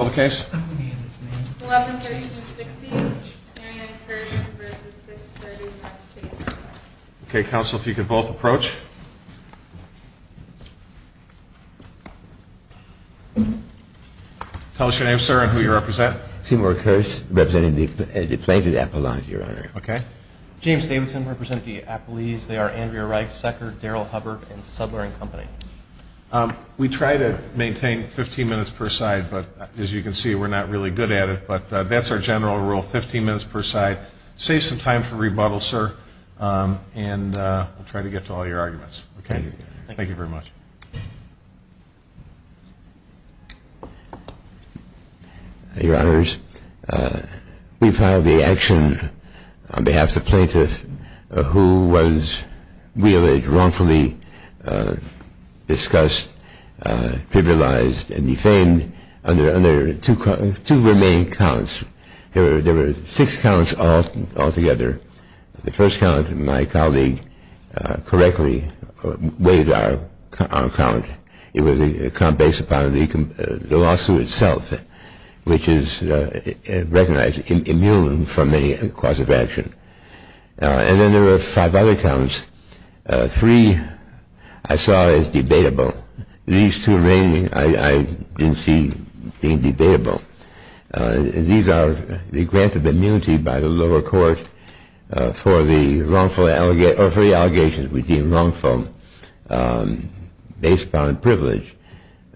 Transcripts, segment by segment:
1130-60, Mary Ann Kurtz v. 630 N. State Parkway Okay, counsel, if you could both approach. Tell us your name, sir, and who you represent. Seymour Kurtz, representing the deflated apple lawn here, Your Honor. James Davidson, representing the apple leaves. They are Andrea Reichsecker, Daryl Hubbard, and Subler & Company. We try to maintain 15 minutes per side, but as you can see, we're not really good at it. But that's our general rule, 15 minutes per side. Save some time for rebuttal, sir, and we'll try to get to all your arguments. Thank you very much. Your Honors, we filed the action on behalf of the plaintiff who was realized wrongfully discussed, trivialized, and defamed under two remaining counts. There were six counts altogether. The first count, my colleague correctly weighed our count. It was a count based upon the lawsuit itself, which is recognized immune from any cause of action. And then there were five other counts. Three I saw as debatable. These two remaining I didn't see being debatable. These are the grant of immunity by the lower court for the wrongful or free allegations we deem wrongful based upon privilege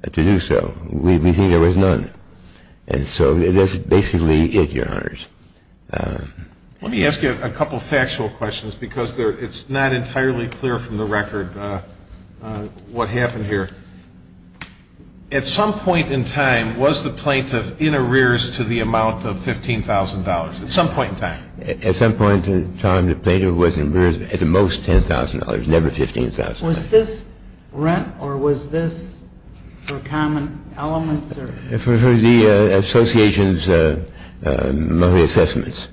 to do so. We think there was none. And so that's basically it, Your Honors. Let me ask you a couple factual questions because it's not entirely clear from the record what happened here. At some point in time, was the plaintiff in arrears to the amount of $15,000, at some point in time? At some point in time, the plaintiff was in arrears at the most $10,000, never $15,000. Was this rent or was this for common elements or? For the association's monthly assessments.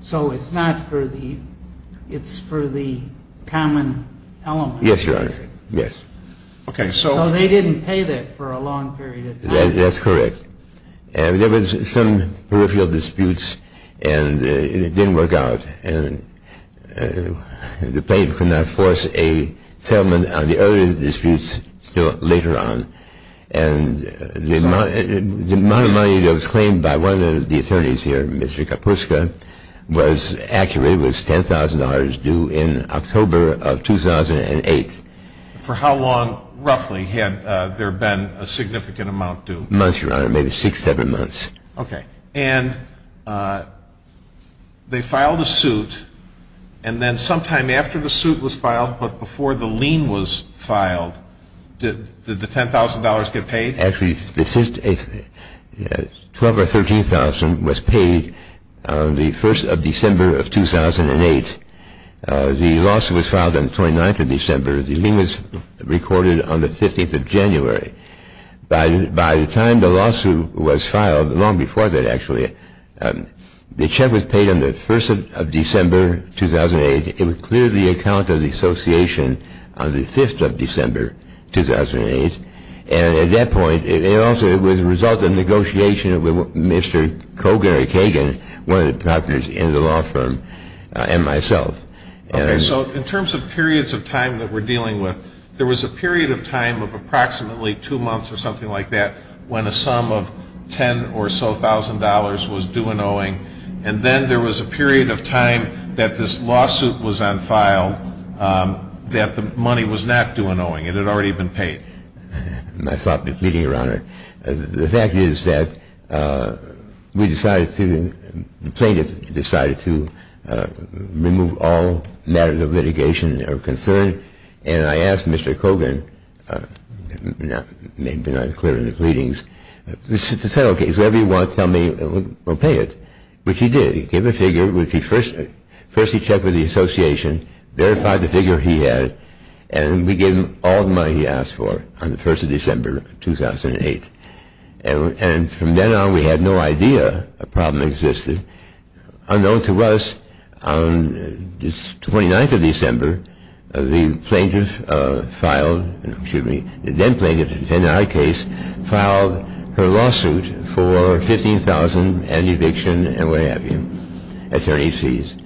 So it's not for the – it's for the common elements? Yes, Your Honor. Yes. Okay. So they didn't pay that for a long period of time? That's correct. There was some peripheral disputes and it didn't work out. And the plaintiff could not force a settlement on the other disputes until later on. And the amount of money that was claimed by one of the attorneys here, Mr. Kapuska, was accurate. It was $10,000 due in October of 2008. For how long, roughly, had there been a significant amount due? Months, Your Honor, maybe six, seven months. Okay. And they filed a suit, and then sometime after the suit was filed, but before the lien was filed, did the $10,000 get paid? Actually, 12 or 13,000 was paid on the 1st of December of 2008. The lawsuit was filed on the 29th of December. The lien was recorded on the 15th of January. By the time the lawsuit was filed, long before that, actually, the check was paid on the 1st of December 2008. It would clear the account of the association on the 5th of December 2008. And at that point, it also was a result of negotiation with Mr. Kogan or Kagan, one of the partners in the law firm, and myself. Okay. So in terms of periods of time that we're dealing with, there was a period of time of approximately two months or something like that when a sum of $10,000 or so was due in owing. And then there was a period of time that this lawsuit was on file that the money was not due in owing. It had already been paid. I stopped the pleading, Your Honor. The fact is that we decided to, the plaintiff decided to remove all matters of litigation or concern, and I asked Mr. Kogan, maybe not clear in the pleadings, to say, okay, is whatever you want, tell me, and we'll pay it, which he did. He gave a figure, which he first checked with the association, verified the figure he had, and we gave him all the money he asked for on the 1st of December 2008. And from then on, we had no idea a problem existed. Unknown to us, on the 29th of December, the plaintiff filed, excuse me, the then plaintiff in our case filed her lawsuit for $15,000 and eviction and what have you, attorney's fees.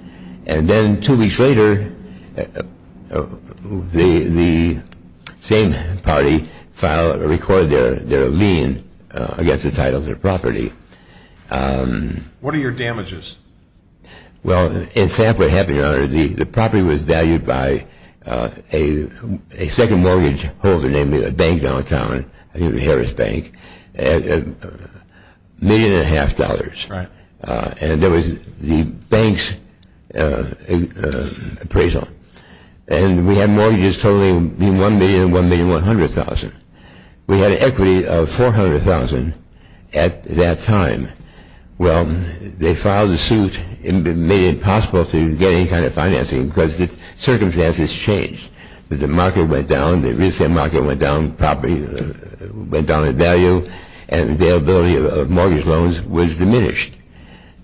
And then two weeks later, the same party filed or recorded their lien against the title of their property. What are your damages? Well, in fact, what happened, Your Honor, the property was valued by a second mortgage holder, namely a bank downtown, I think it was Harris Bank, $1.5 million. Right. And there was the bank's appraisal. And we had mortgages totaling between $1 million and $1,100,000. We had an equity of $400,000 at that time. Well, they filed the suit and made it impossible to get any kind of financing because the circumstances changed. The market went down, the real estate market went down, property went down in value, and the availability of mortgage loans was diminished.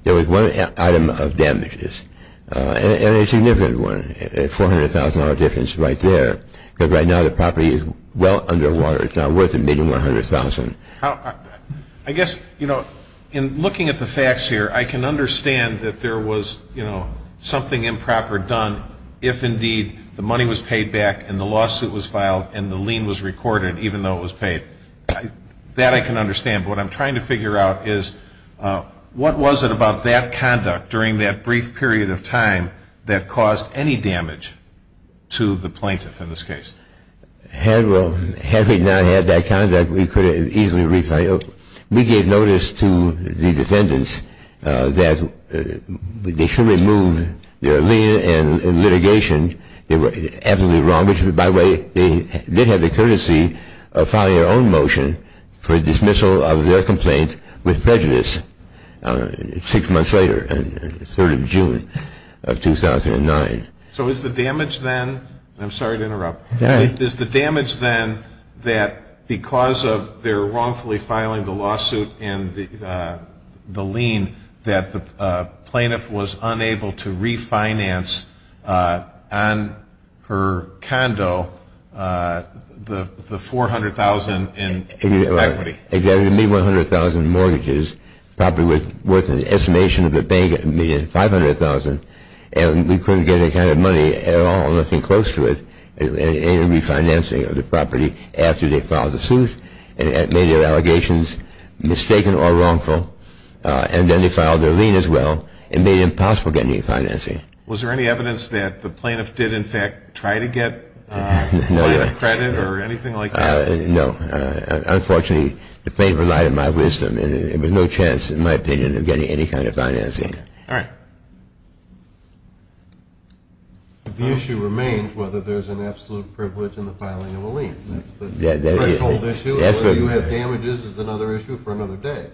There was one item of damages, and a significant one, a $400,000 difference right there, because right now the property is well underwater. It's not worth the $1,100,000. I guess, you know, in looking at the facts here, I can understand that there was, you know, something improper done if, indeed, the money was paid back and the lawsuit was filed and the lien was recorded even though it was paid. That I can understand. But what I'm trying to figure out is what was it about that conduct during that brief period of time that caused any damage to the plaintiff in this case? Had we not had that conduct, we could have easily refiled. We gave notice to the defendants that they should remove their lien and litigation. Which, by the way, they did have the courtesy of filing their own motion for dismissal of their complaint with prejudice six months later on the 3rd of June of 2009. So is the damage then – I'm sorry to interrupt – is the damage then that because of their wrongfully filing the lawsuit and the lien that the plaintiff was unable to refinance on her condo the $400,000 in equity? Exactly. The $100,000 in mortgages, probably worth an estimation of the bank, $500,000, and we couldn't get any kind of money at all, nothing close to it, in refinancing of the property after they filed the suit and made their allegations mistaken or wrongful. And then they filed their lien as well and made it impossible to get any financing. Was there any evidence that the plaintiff did, in fact, try to get credit or anything like that? No. Unfortunately, the plaintiff relied on my wisdom and there was no chance, in my opinion, of getting any kind of financing. All right. The issue remains whether there's an absolute privilege in the filing of a lien. That's the threshold issue. Whether you have damages is another issue for another day.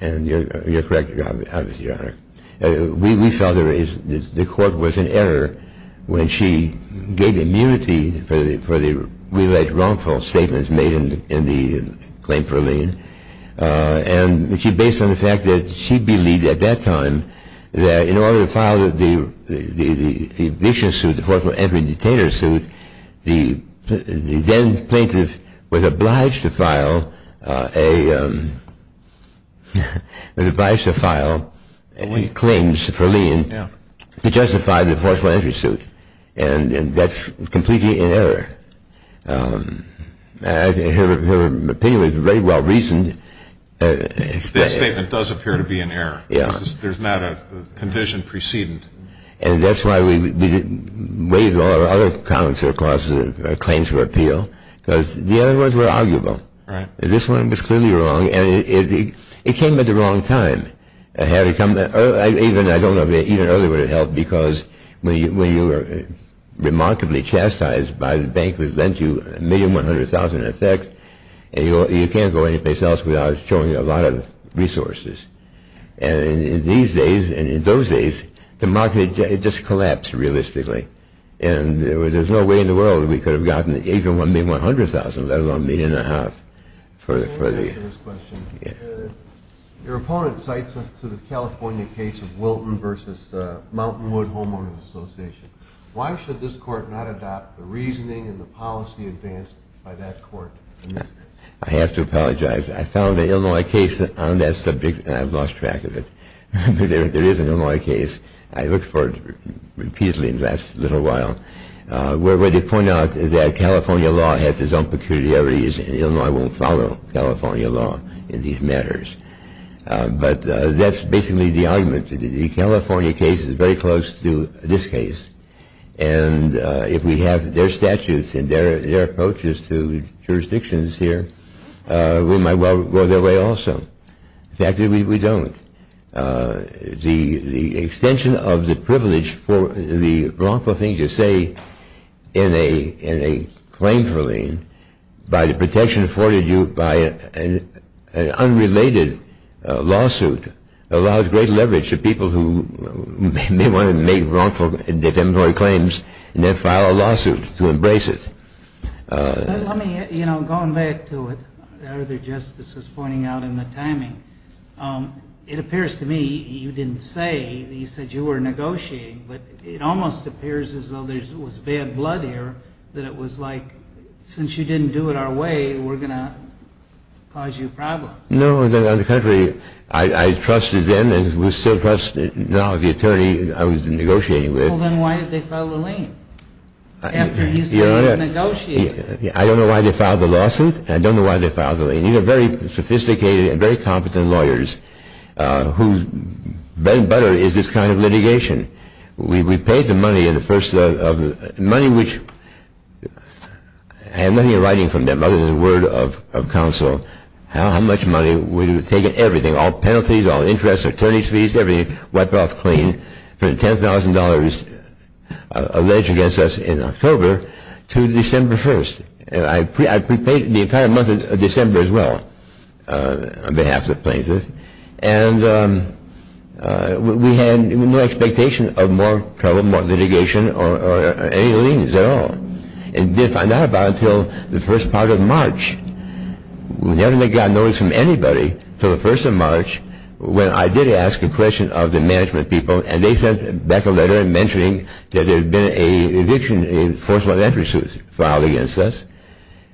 And you're correct, Your Honor. We felt the court was in error when she gave immunity for the alleged wrongful statements made in the claim for a lien. And based on the fact that she believed at that time that in order to file the eviction suit, the forceful entry detainer suit, the then plaintiff was obliged to file a claim for a lien to justify the forceful entry suit. And that's completely in error. Her opinion was very well reasoned. This statement does appear to be in error. There's not a condition precedent. And that's why we waived all our other claims for appeal because the other ones were arguable. This one was clearly wrong and it came at the wrong time. I don't know if even earlier would have helped because when you were remarkably chastised by the bank that lent you a million, 100,000 in effects, you can't go anyplace else without showing a lot of resources. And in these days and in those days, the market just collapsed realistically. And there's no way in the world we could have gotten even one million, 100,000, let alone a million and a half for the... Your opponent cites us to the California case of Wilton v. Mountainwood Homeowners Association. Why should this court not adopt the reasoning and the policy advanced by that court? I have to apologize. I found an Illinois case on that subject and I've lost track of it. There is an Illinois case. I looked for it repeatedly in the last little while where they point out that California law has its own peculiarities and Illinois won't follow California law in these matters. But that's basically the argument. The California case is very close to this case. And if we have their statutes and their approaches to jurisdictions here, we might well go their way also. The fact is we don't. The extension of the privilege for the wrongful thing to say in a claim for lien by the protection afforded you by an unrelated lawsuit allows great leverage to people who may want to make wrongful defamatory claims and then file a lawsuit to embrace it. Let me, you know, going back to what the other Justice was pointing out in the timing, it appears to me you didn't say, you said you were negotiating, but it almost appears as though there was bad blood here, that it was like since you didn't do it our way, we're going to cause you problems. No. On the contrary, I trusted them and would still trust now the attorney I was negotiating with. Well, then why did they file a lien? After you said you were negotiating. I don't know why they filed the lawsuit. I don't know why they filed the lien. You have very sophisticated and very competent lawyers whose bread and butter is this kind of litigation. We paid the money in the first of the money which had nothing in writing from them other than the word of counsel. How much money? We would have taken everything, all penalties, all interest, attorney's fees, everything, from the $10,000 alleged against us in October to December 1st. And I prepaid the entire month of December as well on behalf of the plaintiffs. And we had no expectation of more trouble, more litigation or any liens at all. And we didn't find out about it until the first part of March. We never got notice from anybody until the first of March when I did ask a question of the management people, and they sent back a letter mentioning that there had been an eviction in force of all interest filed against us,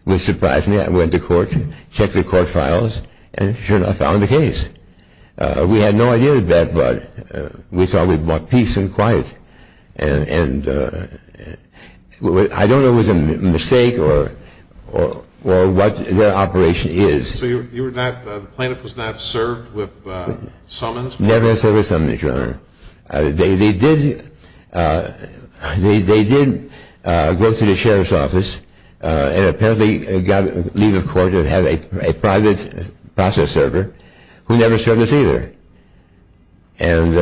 which surprised me. I went to court, checked the court files, and sure enough found the case. We had no idea of that, but we thought we'd brought peace and quiet. And I don't know if it was a mistake or what their operation is. So the plaintiff was not served with summons? Never served with summons, Your Honor. They did go to the sheriff's office and apparently got leave of court and had a private process server who never served us either. And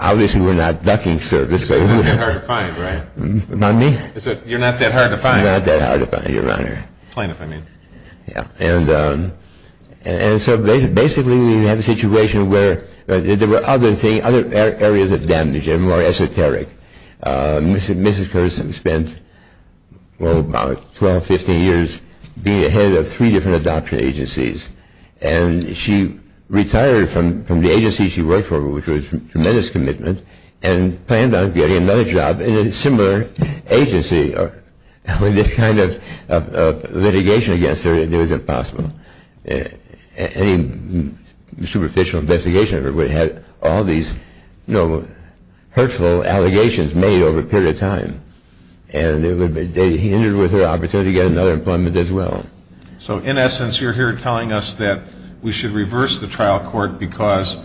obviously we're not ducking service. So you're not that hard to find, right? Pardon me? You're not that hard to find. You're not that hard to find, Your Honor. Plaintiff, I mean. And so basically we had a situation where there were other areas of damage, more esoteric. Mrs. Curtis spent about 12, 15 years being a head of three different adoption agencies. And she retired from the agency she worked for, which was a tremendous commitment, and planned on getting another job in a similar agency. With this kind of litigation against her, it was impossible. Any superficial investigation of her would have all these hurtful allegations made over a period of time. And they hindered her opportunity to get another employment as well. So in essence, you're here telling us that we should reverse the trial court because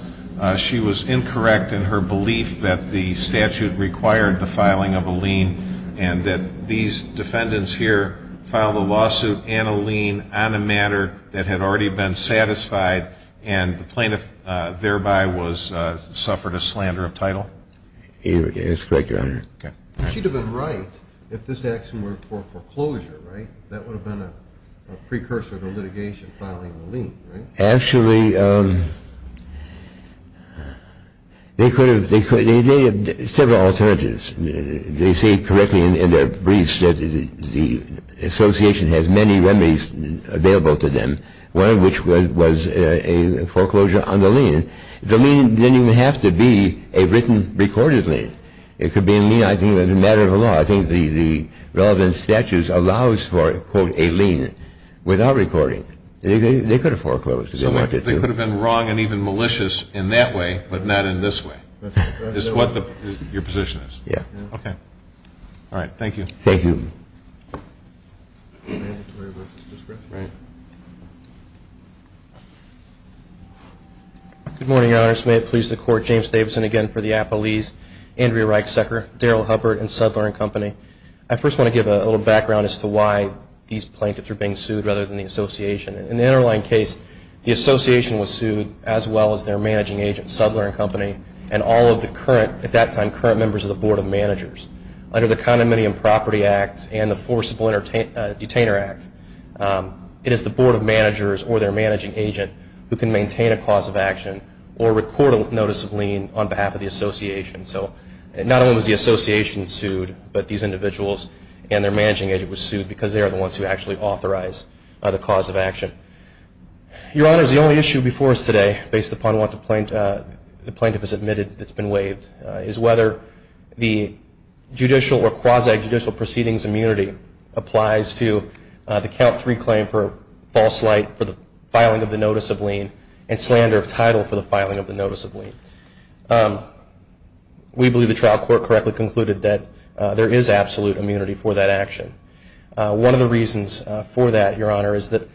she was incorrect in her belief that the statute required the filing of a lien and that these defendants here filed a lawsuit and a lien on a matter that had already been satisfied and the plaintiff thereby suffered a slander of title? That's correct, Your Honor. Okay. She'd have been right if this action were for foreclosure, right? That would have been a precursor to litigation, filing a lien, right? Actually, they could have. They had several alternatives. They say correctly in their briefs that the association has many remedies available to them, one of which was a foreclosure on the lien. The lien didn't even have to be a written, recorded lien. It could be a lien, I think, as a matter of law. I think the relevant statute allows for, quote, a lien without recording. They could have foreclosed. They could have been wrong and even malicious in that way but not in this way. That's what your position is. Yeah. Okay. All right. Thank you. Thank you. Good morning, Your Honors. May it please the Court, James Davidson again for the appellees, Andrea Reichsecker, Daryl Hubbard, and Sudler and Company. I first want to give a little background as to why these plaintiffs are being sued rather than the association. In the underlying case, the association was sued as well as their managing agent, Sudler and Company, and all of the current, at that time, current members of the Board of Managers. Under the Condominium Property Act and the Forcible Detainer Act, it is the Board of Managers or their managing agent who can maintain a cause of action or record a notice of lien on behalf of the association. So not only was the association sued but these individuals and their managing agent were sued because they are the ones who actually authorize the cause of action. Your Honors, the only issue before us today, based upon what the plaintiff has admitted that's been waived, is whether the judicial or quasi-judicial proceedings immunity applies to the Count III claim for false light for the filing of the notice of lien and slander of title for the filing of the notice of lien. We believe the trial court correctly concluded that there is absolute immunity for that action. One of the reasons for that, Your Honor, is that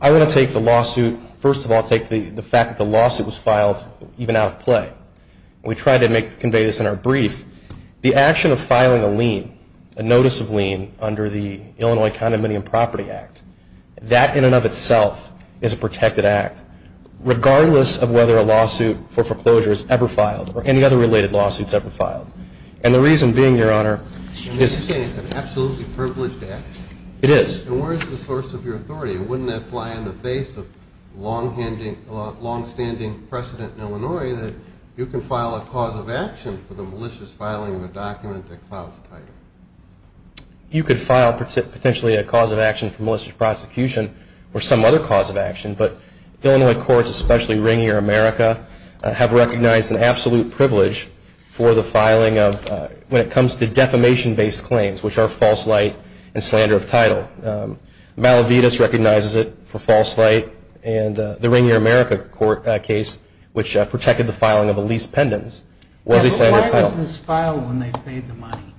I want to take the lawsuit, first of all take the fact that the lawsuit was filed even out of play. We tried to convey this in our brief. The action of filing a lien, a notice of lien, under the Illinois Condominium Property Act, that in and of itself is a protected act, regardless of whether a lawsuit for foreclosure is ever filed or any other related lawsuit is ever filed. And the reason being, Your Honor, is... Are you saying it's an absolutely privileged act? It is. And where is the source of your authority? Wouldn't that fly in the face of long-standing precedent in Illinois that you can file a cause of action for the malicious filing of a document that files a title? You could file potentially a cause of action for malicious prosecution or some other cause of action. But Illinois courts, especially Ringier America, have recognized an absolute privilege for the filing of, when it comes to defamation-based claims, which are false light and slander of title. Malavitas recognizes it for false light. And the Ringier America court case, which protected the filing of a lease pendants, was a slander of title. But why does this file when they've paid the money?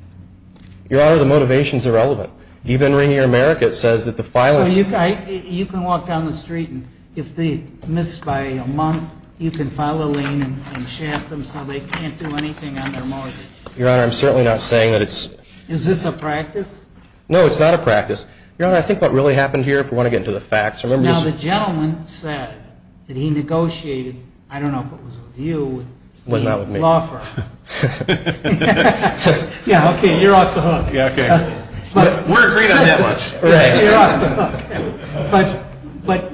Your Honor, the motivation is irrelevant. Even Ringier America says that the filing... So you can walk down the street, and if they miss by a month, you can file a lien and shaft them so they can't do anything on their mortgage? Your Honor, I'm certainly not saying that it's... Is this a practice? No, it's not a practice. Your Honor, I think what really happened here, if we want to get into the facts... Now, the gentleman said that he negotiated, I don't know if it was with you, with the law firm. It was not with me. Okay, you're off the hook. Yeah, okay. We're agreed on that much. You're off the hook. But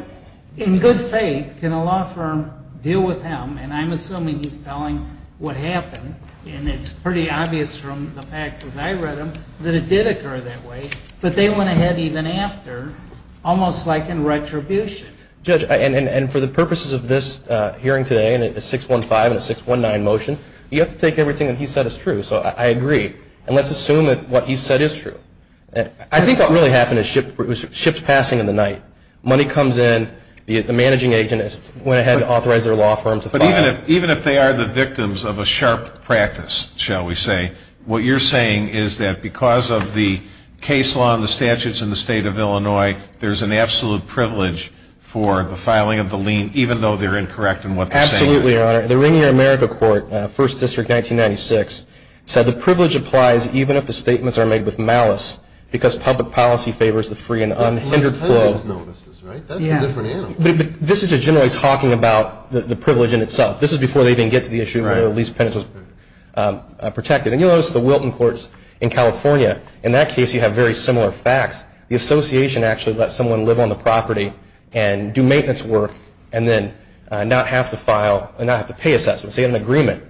in good faith, can a law firm deal with him, and I'm assuming he's telling what happened, and it's pretty obvious from the facts as I read them that it did occur that way, but they went ahead even after, almost like in retribution. Judge, and for the purposes of this hearing today, and a 615 and a 619 motion, you have to take everything that he said as true, so I agree. And let's assume that what he said is true. I think what really happened is ship's passing in the night. Money comes in, the managing agent went ahead and authorized their law firm to file. But even if they are the victims of a sharp practice, shall we say, what you're saying is that because of the case law and the statutes in the State of Illinois, there's an absolute privilege for the filing of the lien, even though they're incorrect in what they're saying. Absolutely, Your Honor. The Rainier America Court, 1st District, 1996, said the privilege applies even if the statements are made with malice, because public policy favors the free and unhindered flow. That's a different animal. This is just generally talking about the privilege in itself. This is before they even get to the issue where the lease penance was protected. And you'll notice the Wilton Courts in California, in that case you have very similar facts. The association actually lets someone live on the property and do maintenance work and then not have to pay assessment. So you have an agreement.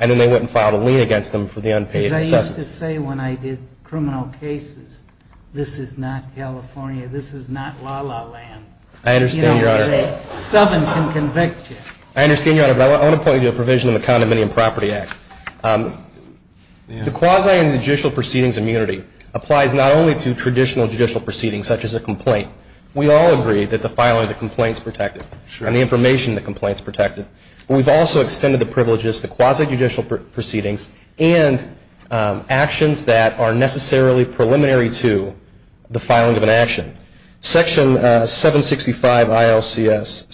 And then they wouldn't file a lien against them for the unpaid assessment. As I used to say when I did criminal cases, this is not California. This is not la-la land. I understand, Your Honor. You know, a southern can convict you. I understand, Your Honor. But I want to point you to a provision in the Condominium Property Act. The quasi-judicial proceedings immunity applies not only to traditional judicial proceedings, such as a complaint. We all agree that the filing of the complaint is protected and the information in the complaint is protected. We've also extended the privileges to quasi-judicial proceedings and actions that are necessarily preliminary to the filing of an action. Section 765 ILCS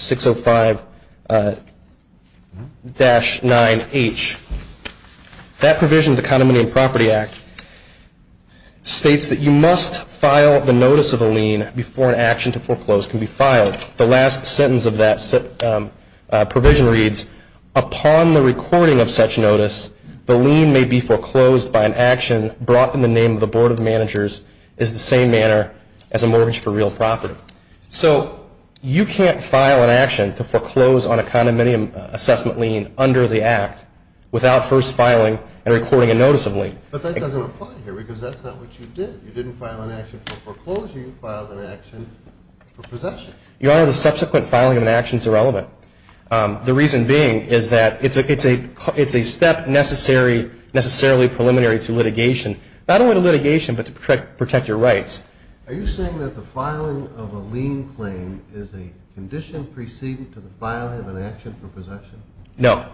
605-9H, that provision in the Condominium Property Act states that you must file the notice of a lien before an action to foreclose can be filed. The last sentence of that provision reads, upon the recording of such notice, the lien may be foreclosed by an action brought in the name of the Board of Managers in the same manner as a mortgage for real property. So you can't file an action to foreclose on a condominium assessment lien under the Act without first filing and recording a notice of lien. But that doesn't apply here because that's not what you did. You didn't file an action for foreclosure. You filed an action for possession. Your Honor, the subsequent filing of an action is irrelevant. The reason being is that it's a step necessarily preliminary to litigation, not only to litigation but to protect your rights. Are you saying that the filing of a lien claim is a condition preceding to the filing of an action for possession? No.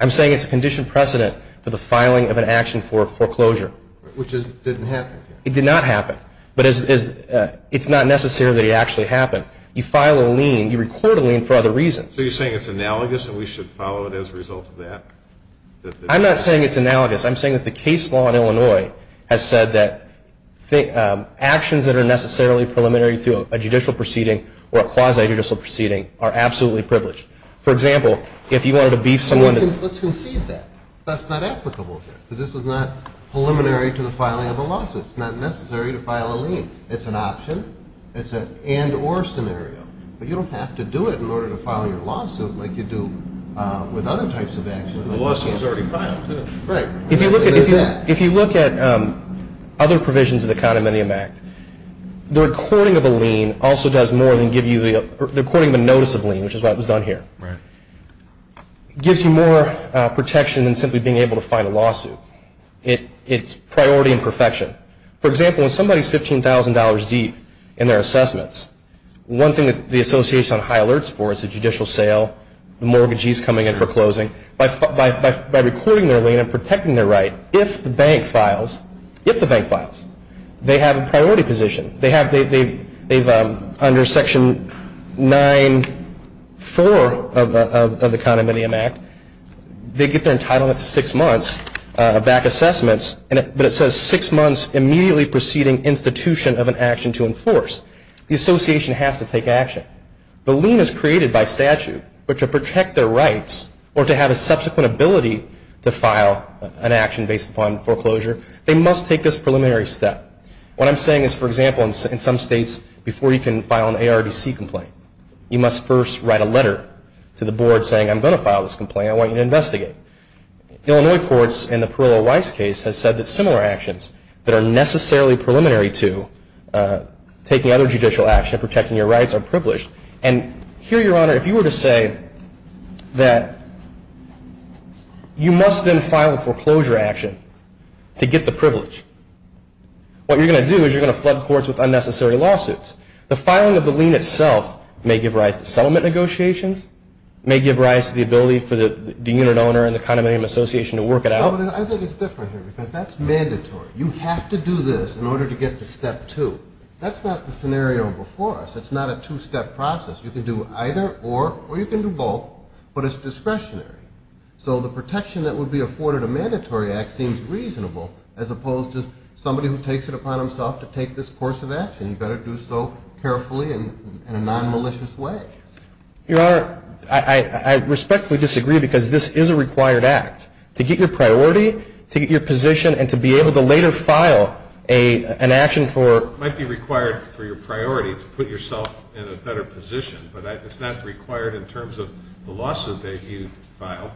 I'm saying it's a condition precedent for the filing of an action for foreclosure. Which didn't happen here. It did not happen. But it's not necessarily that it actually happened. You file a lien, you record a lien for other reasons. So you're saying it's analogous and we should follow it as a result of that? I'm not saying it's analogous. I'm saying that the case law in Illinois has said that actions that are necessarily preliminary to a judicial proceeding or a quasi-judicial proceeding are absolutely privileged. For example, if you wanted to beef someone. Let's concede that. That's not applicable here. This is not preliminary to the filing of a lawsuit. It's not necessary to file a lien. It's an option. It's an and or scenario. But you don't have to do it in order to file your lawsuit like you do with other types of actions. The lawsuit is already filed. Right. If you look at other provisions of the Condominium Act, the recording of a lien also does more than give you the recording of a notice of lien, which is what was done here. Right. It gives you more protection than simply being able to file a lawsuit. It's priority and perfection. For example, when somebody is $15,000 deep in their assessments, one thing that the association is on high alerts for is a judicial sale, the mortgagee is coming in for closing. By recording their lien and protecting their right, if the bank files, if the bank files, they have a priority position. They have under Section 9-4 of the Condominium Act, they get their entitlement to six months back assessments, but it says six months immediately preceding institution of an action to enforce. The association has to take action. The lien is created by statute, but to protect their rights or to have a subsequent ability to file an action based upon foreclosure, they must take this preliminary step. What I'm saying is, for example, in some states, before you can file an ARDC complaint, you must first write a letter to the board saying I'm going to file this complaint, I want you to investigate. Illinois courts in the Perillo-Weiss case has said that similar actions that are necessarily preliminary to taking other judicial action and protecting your rights are privileged. And here, Your Honor, if you were to say that you must then file a foreclosure action to get the privilege, what you're going to do is you're going to flood courts with unnecessary lawsuits. The filing of the lien itself may give rise to settlement negotiations, may give rise to the ability for the unit owner and the condominium association to work it out. I think it's different here because that's mandatory. You have to do this in order to get to Step 2. That's not the scenario before us. It's not a two-step process. You can do either or, or you can do both, but it's discretionary. So the protection that would be afforded a mandatory act seems reasonable as opposed to somebody who takes it upon himself to take this course of action. You better do so carefully and in a nonmalicious way. Your Honor, I respectfully disagree because this is a required act. To get your priority, to get your position, and to be able to later file an action for ---- It might be required for your priority to put yourself in a better position, but it's not required in terms of the lawsuit that you file.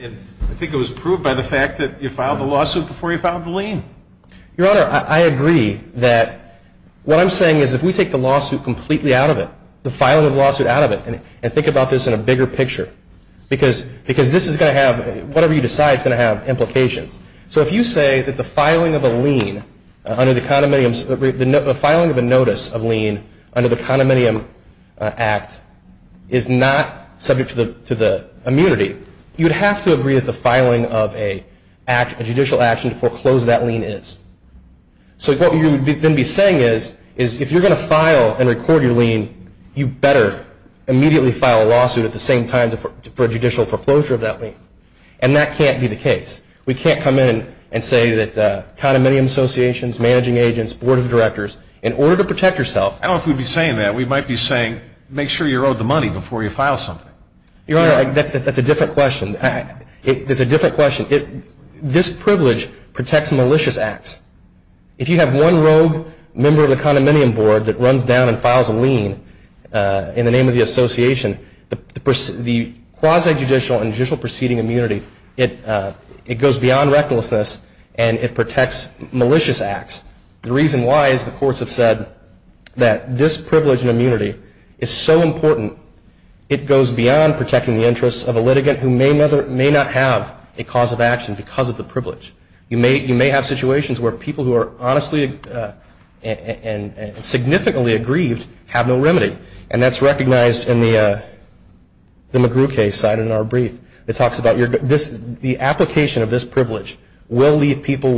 And I think it was proved by the fact that you filed the lawsuit before you filed the lien. Your Honor, I agree that what I'm saying is if we take the lawsuit completely out of it, the filing of the lawsuit out of it, and think about this in a bigger picture, because this is going to have, whatever you decide is going to have implications. So if you say that the filing of a lien under the condominium's, the filing of a notice of lien under the condominium act is not subject to the immunity, you would have to agree that the filing of a judicial action to foreclose that lien is. So what you would then be saying is if you're going to file and record your lien, you better immediately file a lawsuit at the same time for judicial foreclosure of that lien. And that can't be the case. We can't come in and say that condominium associations, managing agents, board of directors, in order to protect yourself. I don't know if we'd be saying that. We might be saying make sure you're owed the money before you file something. Your Honor, that's a different question. It's a different question. This privilege protects malicious acts. If you have one rogue member of the condominium board that runs down and files a lien in the name of the association, the quasi-judicial and judicial proceeding immunity, it goes beyond recklessness and it protects malicious acts. The reason why is the courts have said that this privilege and immunity is so important, it goes beyond protecting the interests of a litigant who may not have a cause of action because of the privilege. You may have situations where people who are honestly and significantly aggrieved have no remedy. And that's recognized in the McGrew case cited in our brief. It talks about the application of this privilege will leave people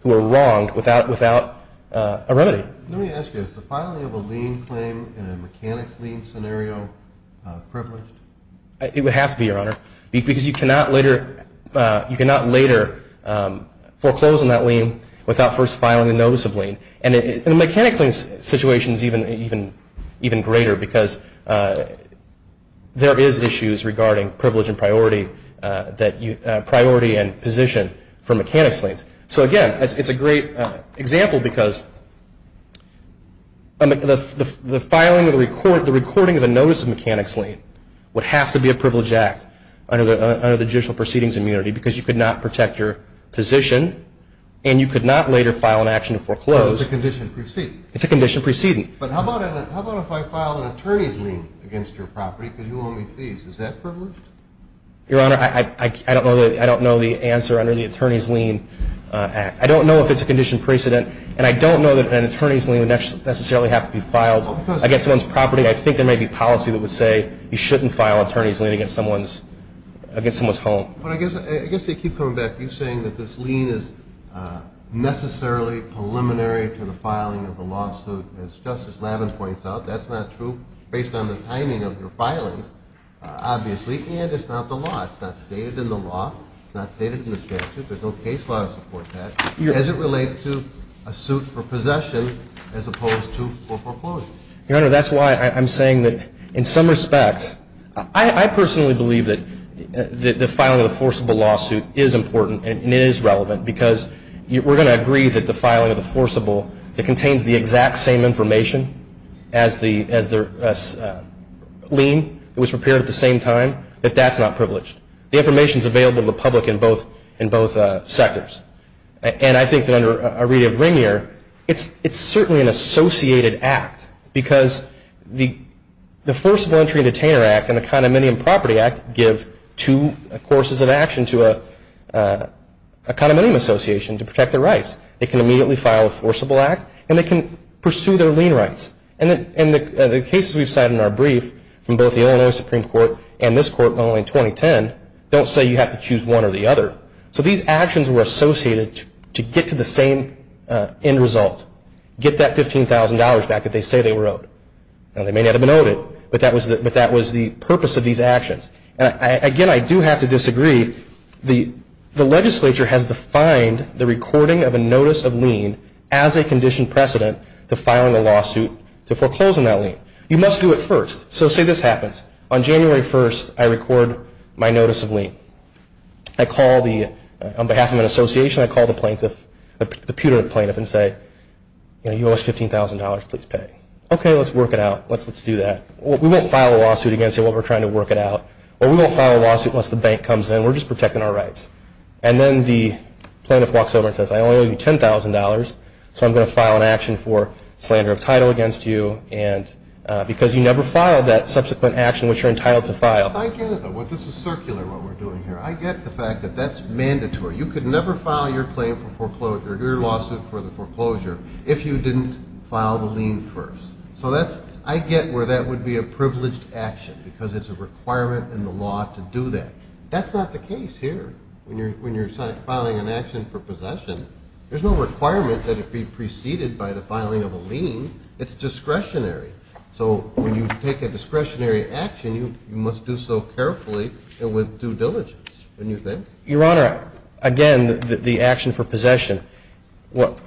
who are wronged without a remedy. Let me ask you, is the filing of a lien claim in a mechanics lien scenario privileged? It would have to be, Your Honor, because you cannot later foreclose on that lien without first filing a notice of lien. And the mechanics lien situation is even greater because there is issues regarding privilege and priority and position for mechanics liens. So again, it's a great example because the filing of the recording of a notice of mechanics lien would have to be a privilege act under the judicial proceedings immunity because you could not protect your position and you could not later file an action to foreclose. So it's a condition preceding? It's a condition preceding. But how about if I filed an attorney's lien against your property? Could you owe me fees? Is that privileged? Your Honor, I don't know the answer under the attorney's lien act. I don't know if it's a condition precedent, and I don't know that an attorney's lien would necessarily have to be filed against someone's property. I think there may be policy that would say you shouldn't file an attorney's lien against someone's home. But I guess I keep coming back to you saying that this lien is necessarily preliminary to the filing of the lawsuit. As Justice Lavin points out, that's not true based on the timing of your filing, obviously, and it's not the law. It's not stated in the law. It's not stated in the statute. There's no case law to support that as it relates to a suit for possession as opposed to foreclosure. Your Honor, that's why I'm saying that in some respects, I personally believe that the filing of the forcible lawsuit is important and it is relevant because we're going to agree that the filing of the forcible, it contains the exact same information as the lien. It was prepared at the same time, but that's not privileged. The information is available to the public in both sectors. And I think that under a read of Rainier, it's certainly an associated act because the Forcible Entry and Detainer Act and the Condominium Property Act give two courses of action to a condominium association to protect their rights. They can immediately file a forcible act and they can pursue their lien rights. And the cases we've cited in our brief from both the Illinois Supreme Court and this court in 2010 don't say you have to choose one or the other. So these actions were associated to get to the same end result, get that $15,000 back that they say they were owed. Now, they may not have been owed it, but that was the purpose of these actions. Again, I do have to disagree. The legislature has defined the recording of a notice of lien as a conditioned precedent to filing a lawsuit to foreclose on that lien. You must do it first. So say this happens. On January 1st, I record my notice of lien. On behalf of an association, I call the putative plaintiff and say, you owe us $15,000. Please pay. Okay, let's work it out. Let's do that. We won't file a lawsuit against you while we're trying to work it out, or we won't file a lawsuit unless the bank comes in. We're just protecting our rights. And then the plaintiff walks over and says, I only owe you $10,000, so I'm going to file an action for slander of title against you because you never filed that subsequent action which you're entitled to file. I get it, though. This is circular, what we're doing here. I get the fact that that's mandatory. You could never file your claim for foreclosure, your lawsuit for the foreclosure, if you didn't file the lien first. So I get where that would be a privileged action because it's a requirement in the law to do that. That's not the case here. When you're filing an action for possession, there's no requirement that it be preceded by the filing of a lien. It's discretionary. So when you take a discretionary action, you must do so carefully and with due diligence, don't you think? Your Honor, again, the action for possession,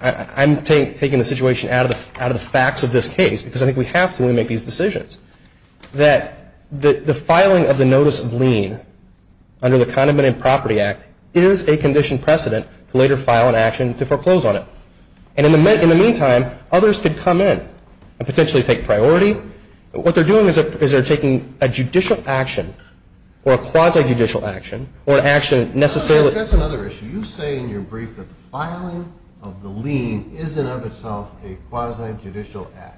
I'm taking the situation out of the facts of this case because I think we have to when we make these decisions, that the filing of the notice of lien under the Condiment and Property Act is a conditioned precedent to later file an action to foreclose on it. And in the meantime, others could come in and potentially take priority. What they're doing is they're taking a judicial action or a quasi-judicial action or an action necessarily. That's another issue. You say in your brief that the filing of the lien is in and of itself a quasi-judicial act.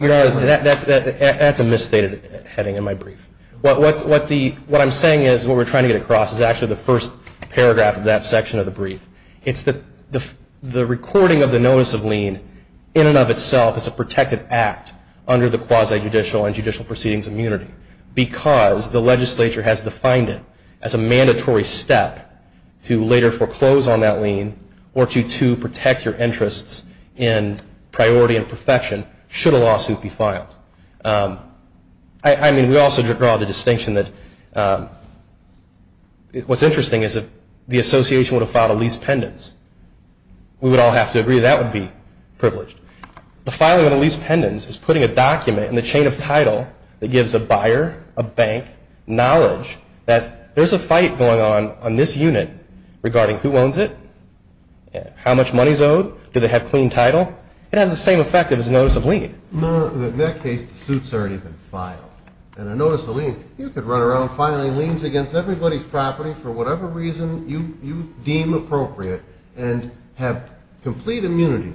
Your Honor, that's a misstated heading in my brief. What I'm saying is what we're trying to get across is actually the first paragraph of that section of the brief. It's the recording of the notice of lien in and of itself is a protected act under the quasi-judicial and judicial proceedings immunity because the legislature has defined it as a mandatory step to later foreclose on that lien or to protect your interests in priority and perfection should a lawsuit be filed. I mean, we also draw the distinction that what's interesting is if the association would have filed a lease pendants. We would all have to agree that would be privileged. The filing of a lease pendants is putting a document in the chain of title that gives a buyer, a bank, knowledge that there's a fight going on on this unit regarding who owns it, how much money is owed, do they have clean title. It has the same effect as a notice of lien. In that case, the suit's already been filed. And a notice of lien, you could run around filing liens against everybody's property for whatever reason you deem appropriate and have complete immunity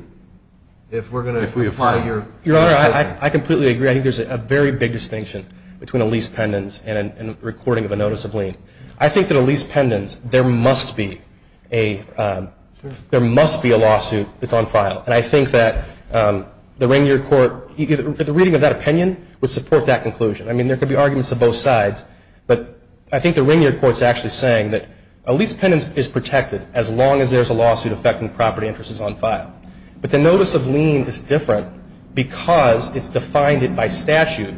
if we're going to apply your opinion. Your Honor, I completely agree. I think there's a very big distinction between a lease pendants and a recording of a notice of lien. I think that a lease pendants, there must be a lawsuit that's on file. And I think that the Rainier Court, the reading of that opinion would support that conclusion. I mean, there could be arguments of both sides. But I think the Rainier Court is actually saying that a lease pendants is protected as long as there's a lawsuit affecting property interests on file. But the notice of lien is different because it's defined by statute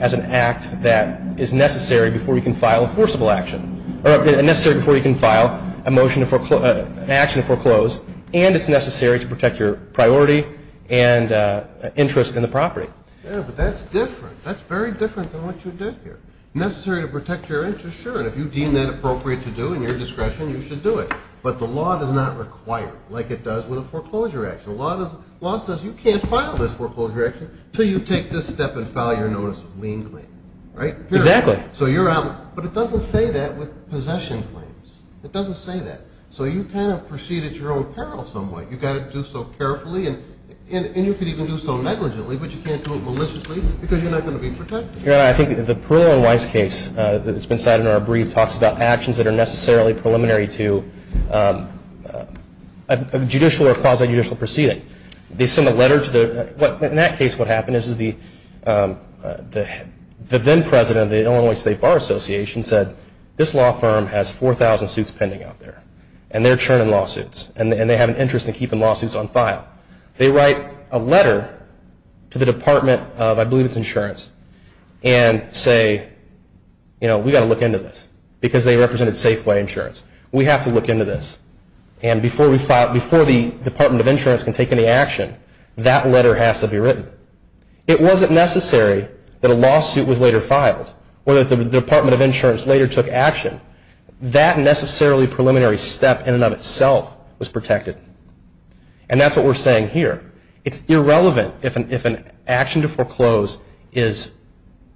as an act that is necessary before you can file a forcible action, or necessary before you can file an action to foreclose, and it's necessary to protect your priority and interest in the property. Yeah, but that's different. That's very different than what you did here. Necessary to protect your interest, sure, and if you deem that appropriate to do in your discretion, you should do it. But the law does not require it like it does with a foreclosure action. The law says you can't file this foreclosure action until you take this step and file your notice of lien claim. Right? Exactly. So you're out. But it doesn't say that with possession claims. It doesn't say that. So you kind of proceed at your own peril some way. You've got to do so carefully, and you could even do so negligently, but you can't do it maliciously because you're not going to be protected. I think the Perlow and Weiss case that's been cited in our brief talks about actions that are necessarily preliminary to a judicial or quasi-judicial proceeding. They send a letter to the – in that case what happened is the then-president of the Illinois State Bar Association said, this law firm has 4,000 suits pending out there, and they're churning lawsuits, and they have an interest in keeping lawsuits on file. They write a letter to the Department of, I believe it's insurance, and say, you know, we've got to look into this because they represented Safeway Insurance. We have to look into this. And before the Department of Insurance can take any action, that letter has to be written. It wasn't necessary that a lawsuit was later filed or that the Department of Insurance later took action. That necessarily preliminary step in and of itself was protected. And that's what we're saying here. It's irrelevant if an action to foreclose is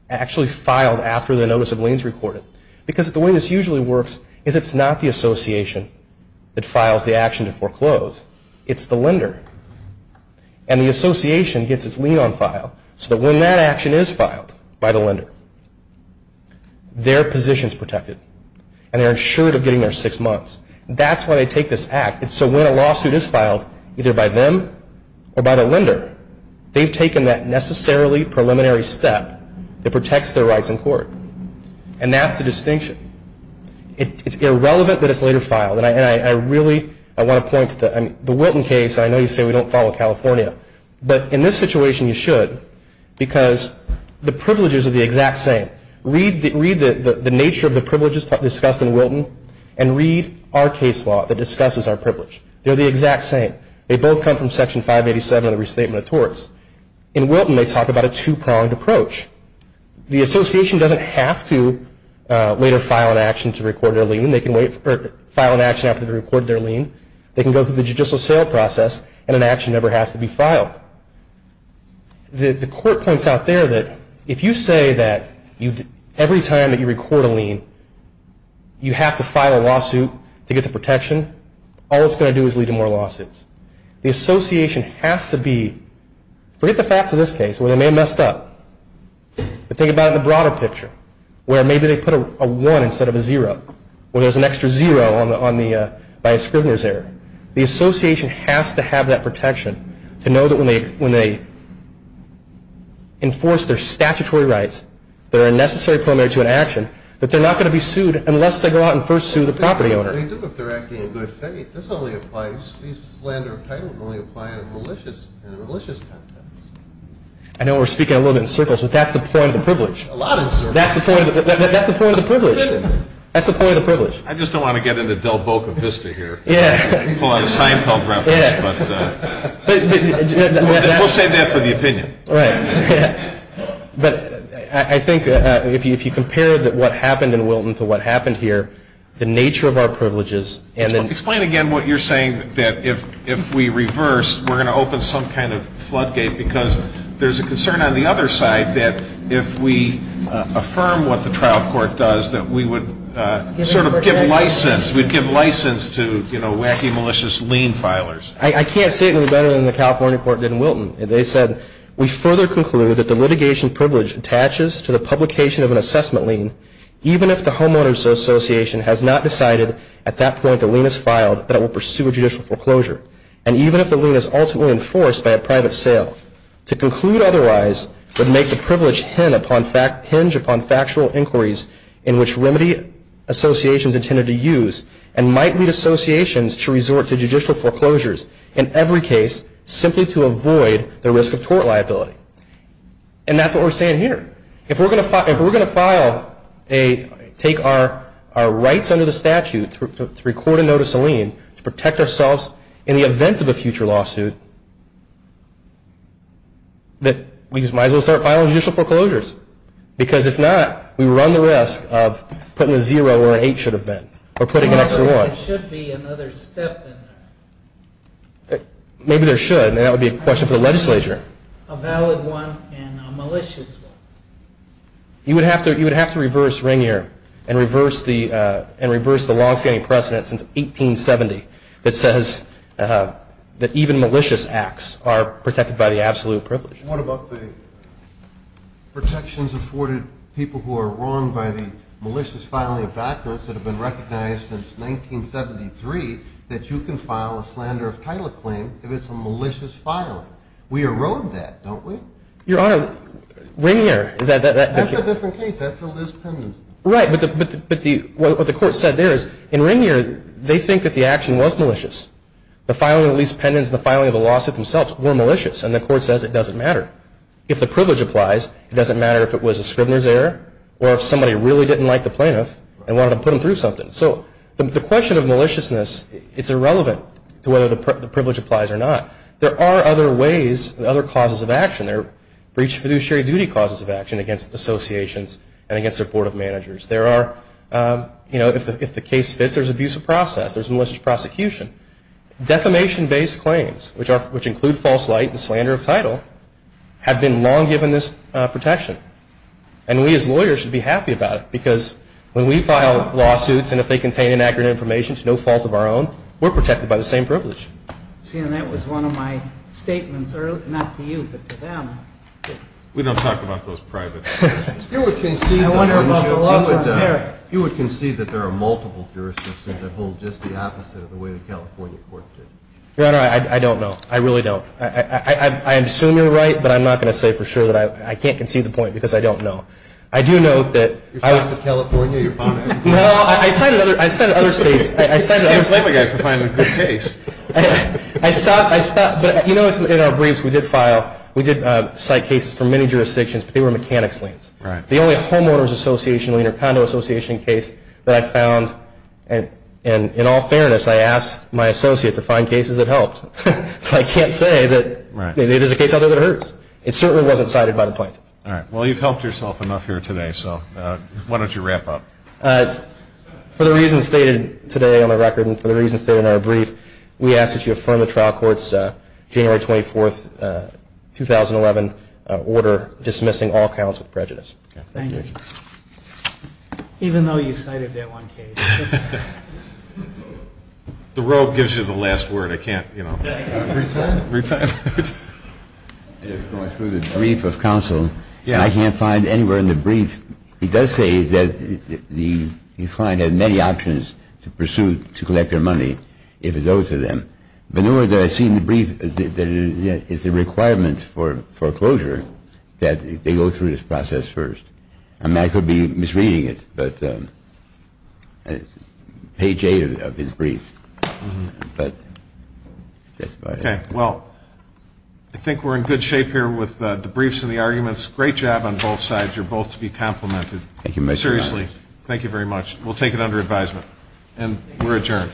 actually filed after the notice of lien is recorded because the way this usually works is it's not the association that files the action to foreclose. It's the lender. And the association gets its lien on file so that when that action is filed by the lender, their position is protected, and they're insured of getting their six months. That's why they take this act. And so when a lawsuit is filed, either by them or by the lender, they've taken that necessarily preliminary step that protects their rights in court. And that's the distinction. It's irrelevant that it's later filed. And I really want to point to the Wilton case. I know you say we don't follow California, but in this situation you should because the privileges are the exact same. Read the nature of the privileges discussed in Wilton and read our case law that discusses our privilege. They're the exact same. They both come from Section 587 of the Restatement of Torts. In Wilton they talk about a two-pronged approach. The association doesn't have to later file an action to record their lien. They can file an action after they record their lien. They can go through the judicial sale process, and an action never has to be filed. The court points out there that if you say that every time that you record a lien, you have to file a lawsuit to get the protection, all it's going to do is lead to more lawsuits. The association has to be, forget the facts of this case where they may have messed up, but think about it in the broader picture where maybe they put a one instead of a zero where there's an extra zero by a scrivener's error. The association has to have that protection to know that when they enforce their statutory rights, they're a necessary primary to an action, that they're not going to be sued unless they go out and first sue the property owner. They do if they're acting in good faith. This only applies, these slander of title can only apply in a malicious context. I know we're speaking a little bit in circles, but that's the point of the privilege. A lot in circles. That's the point of the privilege. That's the point of the privilege. I just don't want to get into Del Boca Vista here and pull out a Seinfeld reference, but we'll save that for the opinion. But I think if you compare what happened in Wilton to what happened here, the nature of our privileges. Explain again what you're saying, that if we reverse, we're going to open some kind of floodgate because there's a concern on the other side that if we affirm what the trial court does, that we would sort of give license, we'd give license to, you know, wacky, malicious lien filers. I can't say it any better than the California court did in Wilton. They said, we further conclude that the litigation privilege attaches to the publication of an assessment lien, even if the homeowner's association has not decided at that point the lien is filed, that it will pursue a judicial foreclosure, and even if the lien is ultimately enforced by a private sale. To conclude otherwise would make the privilege hinge upon factual inquiries in which remedy associations intended to use and might need associations to resort to judicial foreclosures in every case simply to avoid the risk of tort liability. And that's what we're saying here. If we're going to file a, take our rights under the statute to record a notice of lien to protect ourselves in the event of a future lawsuit, that we might as well start filing judicial foreclosures. Because if not, we run the risk of putting a zero where an eight should have been. Or putting an extra one. However, there should be another step in there. Maybe there should. That would be a question for the legislature. A valid one and a malicious one. You would have to reverse Ringier and reverse the long-standing precedent since 1870 that says that even malicious acts are protected by the absolute privilege. What about the protections afforded people who are wronged by the malicious filing of documents that have been recognized since 1973 that you can file a slander of title claim if it's a malicious filing? We erode that, don't we? Your Honor, Ringier. That's a different case. That's a Liz Pendens case. Right. But what the Court said there is in Ringier, they think that the action was malicious. The filing of Liz Pendens and the filing of the lawsuit themselves were malicious. And the Court says it doesn't matter. If the privilege applies, it doesn't matter if it was a scrivener's error or if somebody really didn't like the plaintiff and wanted to put them through something. So the question of maliciousness, it's irrelevant to whether the privilege applies or not. There are other ways, other causes of action. There are breach of fiduciary duty causes of action against associations and against their board of managers. If the case fits, there's abuse of process. There's malicious prosecution. Defamation-based claims, which include false light and slander of title, have been long given this protection. And we as lawyers should be happy about it because when we file lawsuits and if they contain inaccurate information to no fault of our own, we're protected by the same privilege. See, and that was one of my statements earlier, not to you but to them. We don't talk about those private things. You would concede that there are multiple jurisdictions that hold just the opposite of the way the California court did. Your Honor, I don't know. I really don't. I assume you're right, but I'm not going to say for sure that I can't concede the point because I don't know. I do know that – You're talking to California? No, I said other states. You can't blame a guy for finding a good case. I stopped. I stopped. But you notice in our briefs we did file – we did cite cases from many jurisdictions, but they were mechanics liens. The only homeowners association lien or condo association case that I found and, in all fairness, I asked my associate to find cases that helped. So I can't say that it is a case I know that hurts. It certainly wasn't cited by the plaintiff. All right. Well, you've helped yourself enough here today, so why don't you wrap up? For the reasons stated today on the record and for the reasons stated in our brief, we ask that you affirm the trial court's January 24, 2011, order dismissing all counts with prejudice. Thank you. Even though you cited that one case. The robe gives you the last word. I can't, you know. Retire? Retire. Going through the brief of counsel, I can't find anywhere in the brief – it does say that the client had many options to pursue to collect their money if it's owed to them. But nowhere did I see in the brief that it's a requirement for foreclosure that they go through this process first. And I could be misreading it, but it's page 8 of his brief. But that's about it. Okay. Well, I think we're in good shape here with the briefs and the arguments. Great job on both sides. You're both to be complimented. Thank you very much. Seriously. Thank you very much. We'll take it under advisement. And we're adjourned.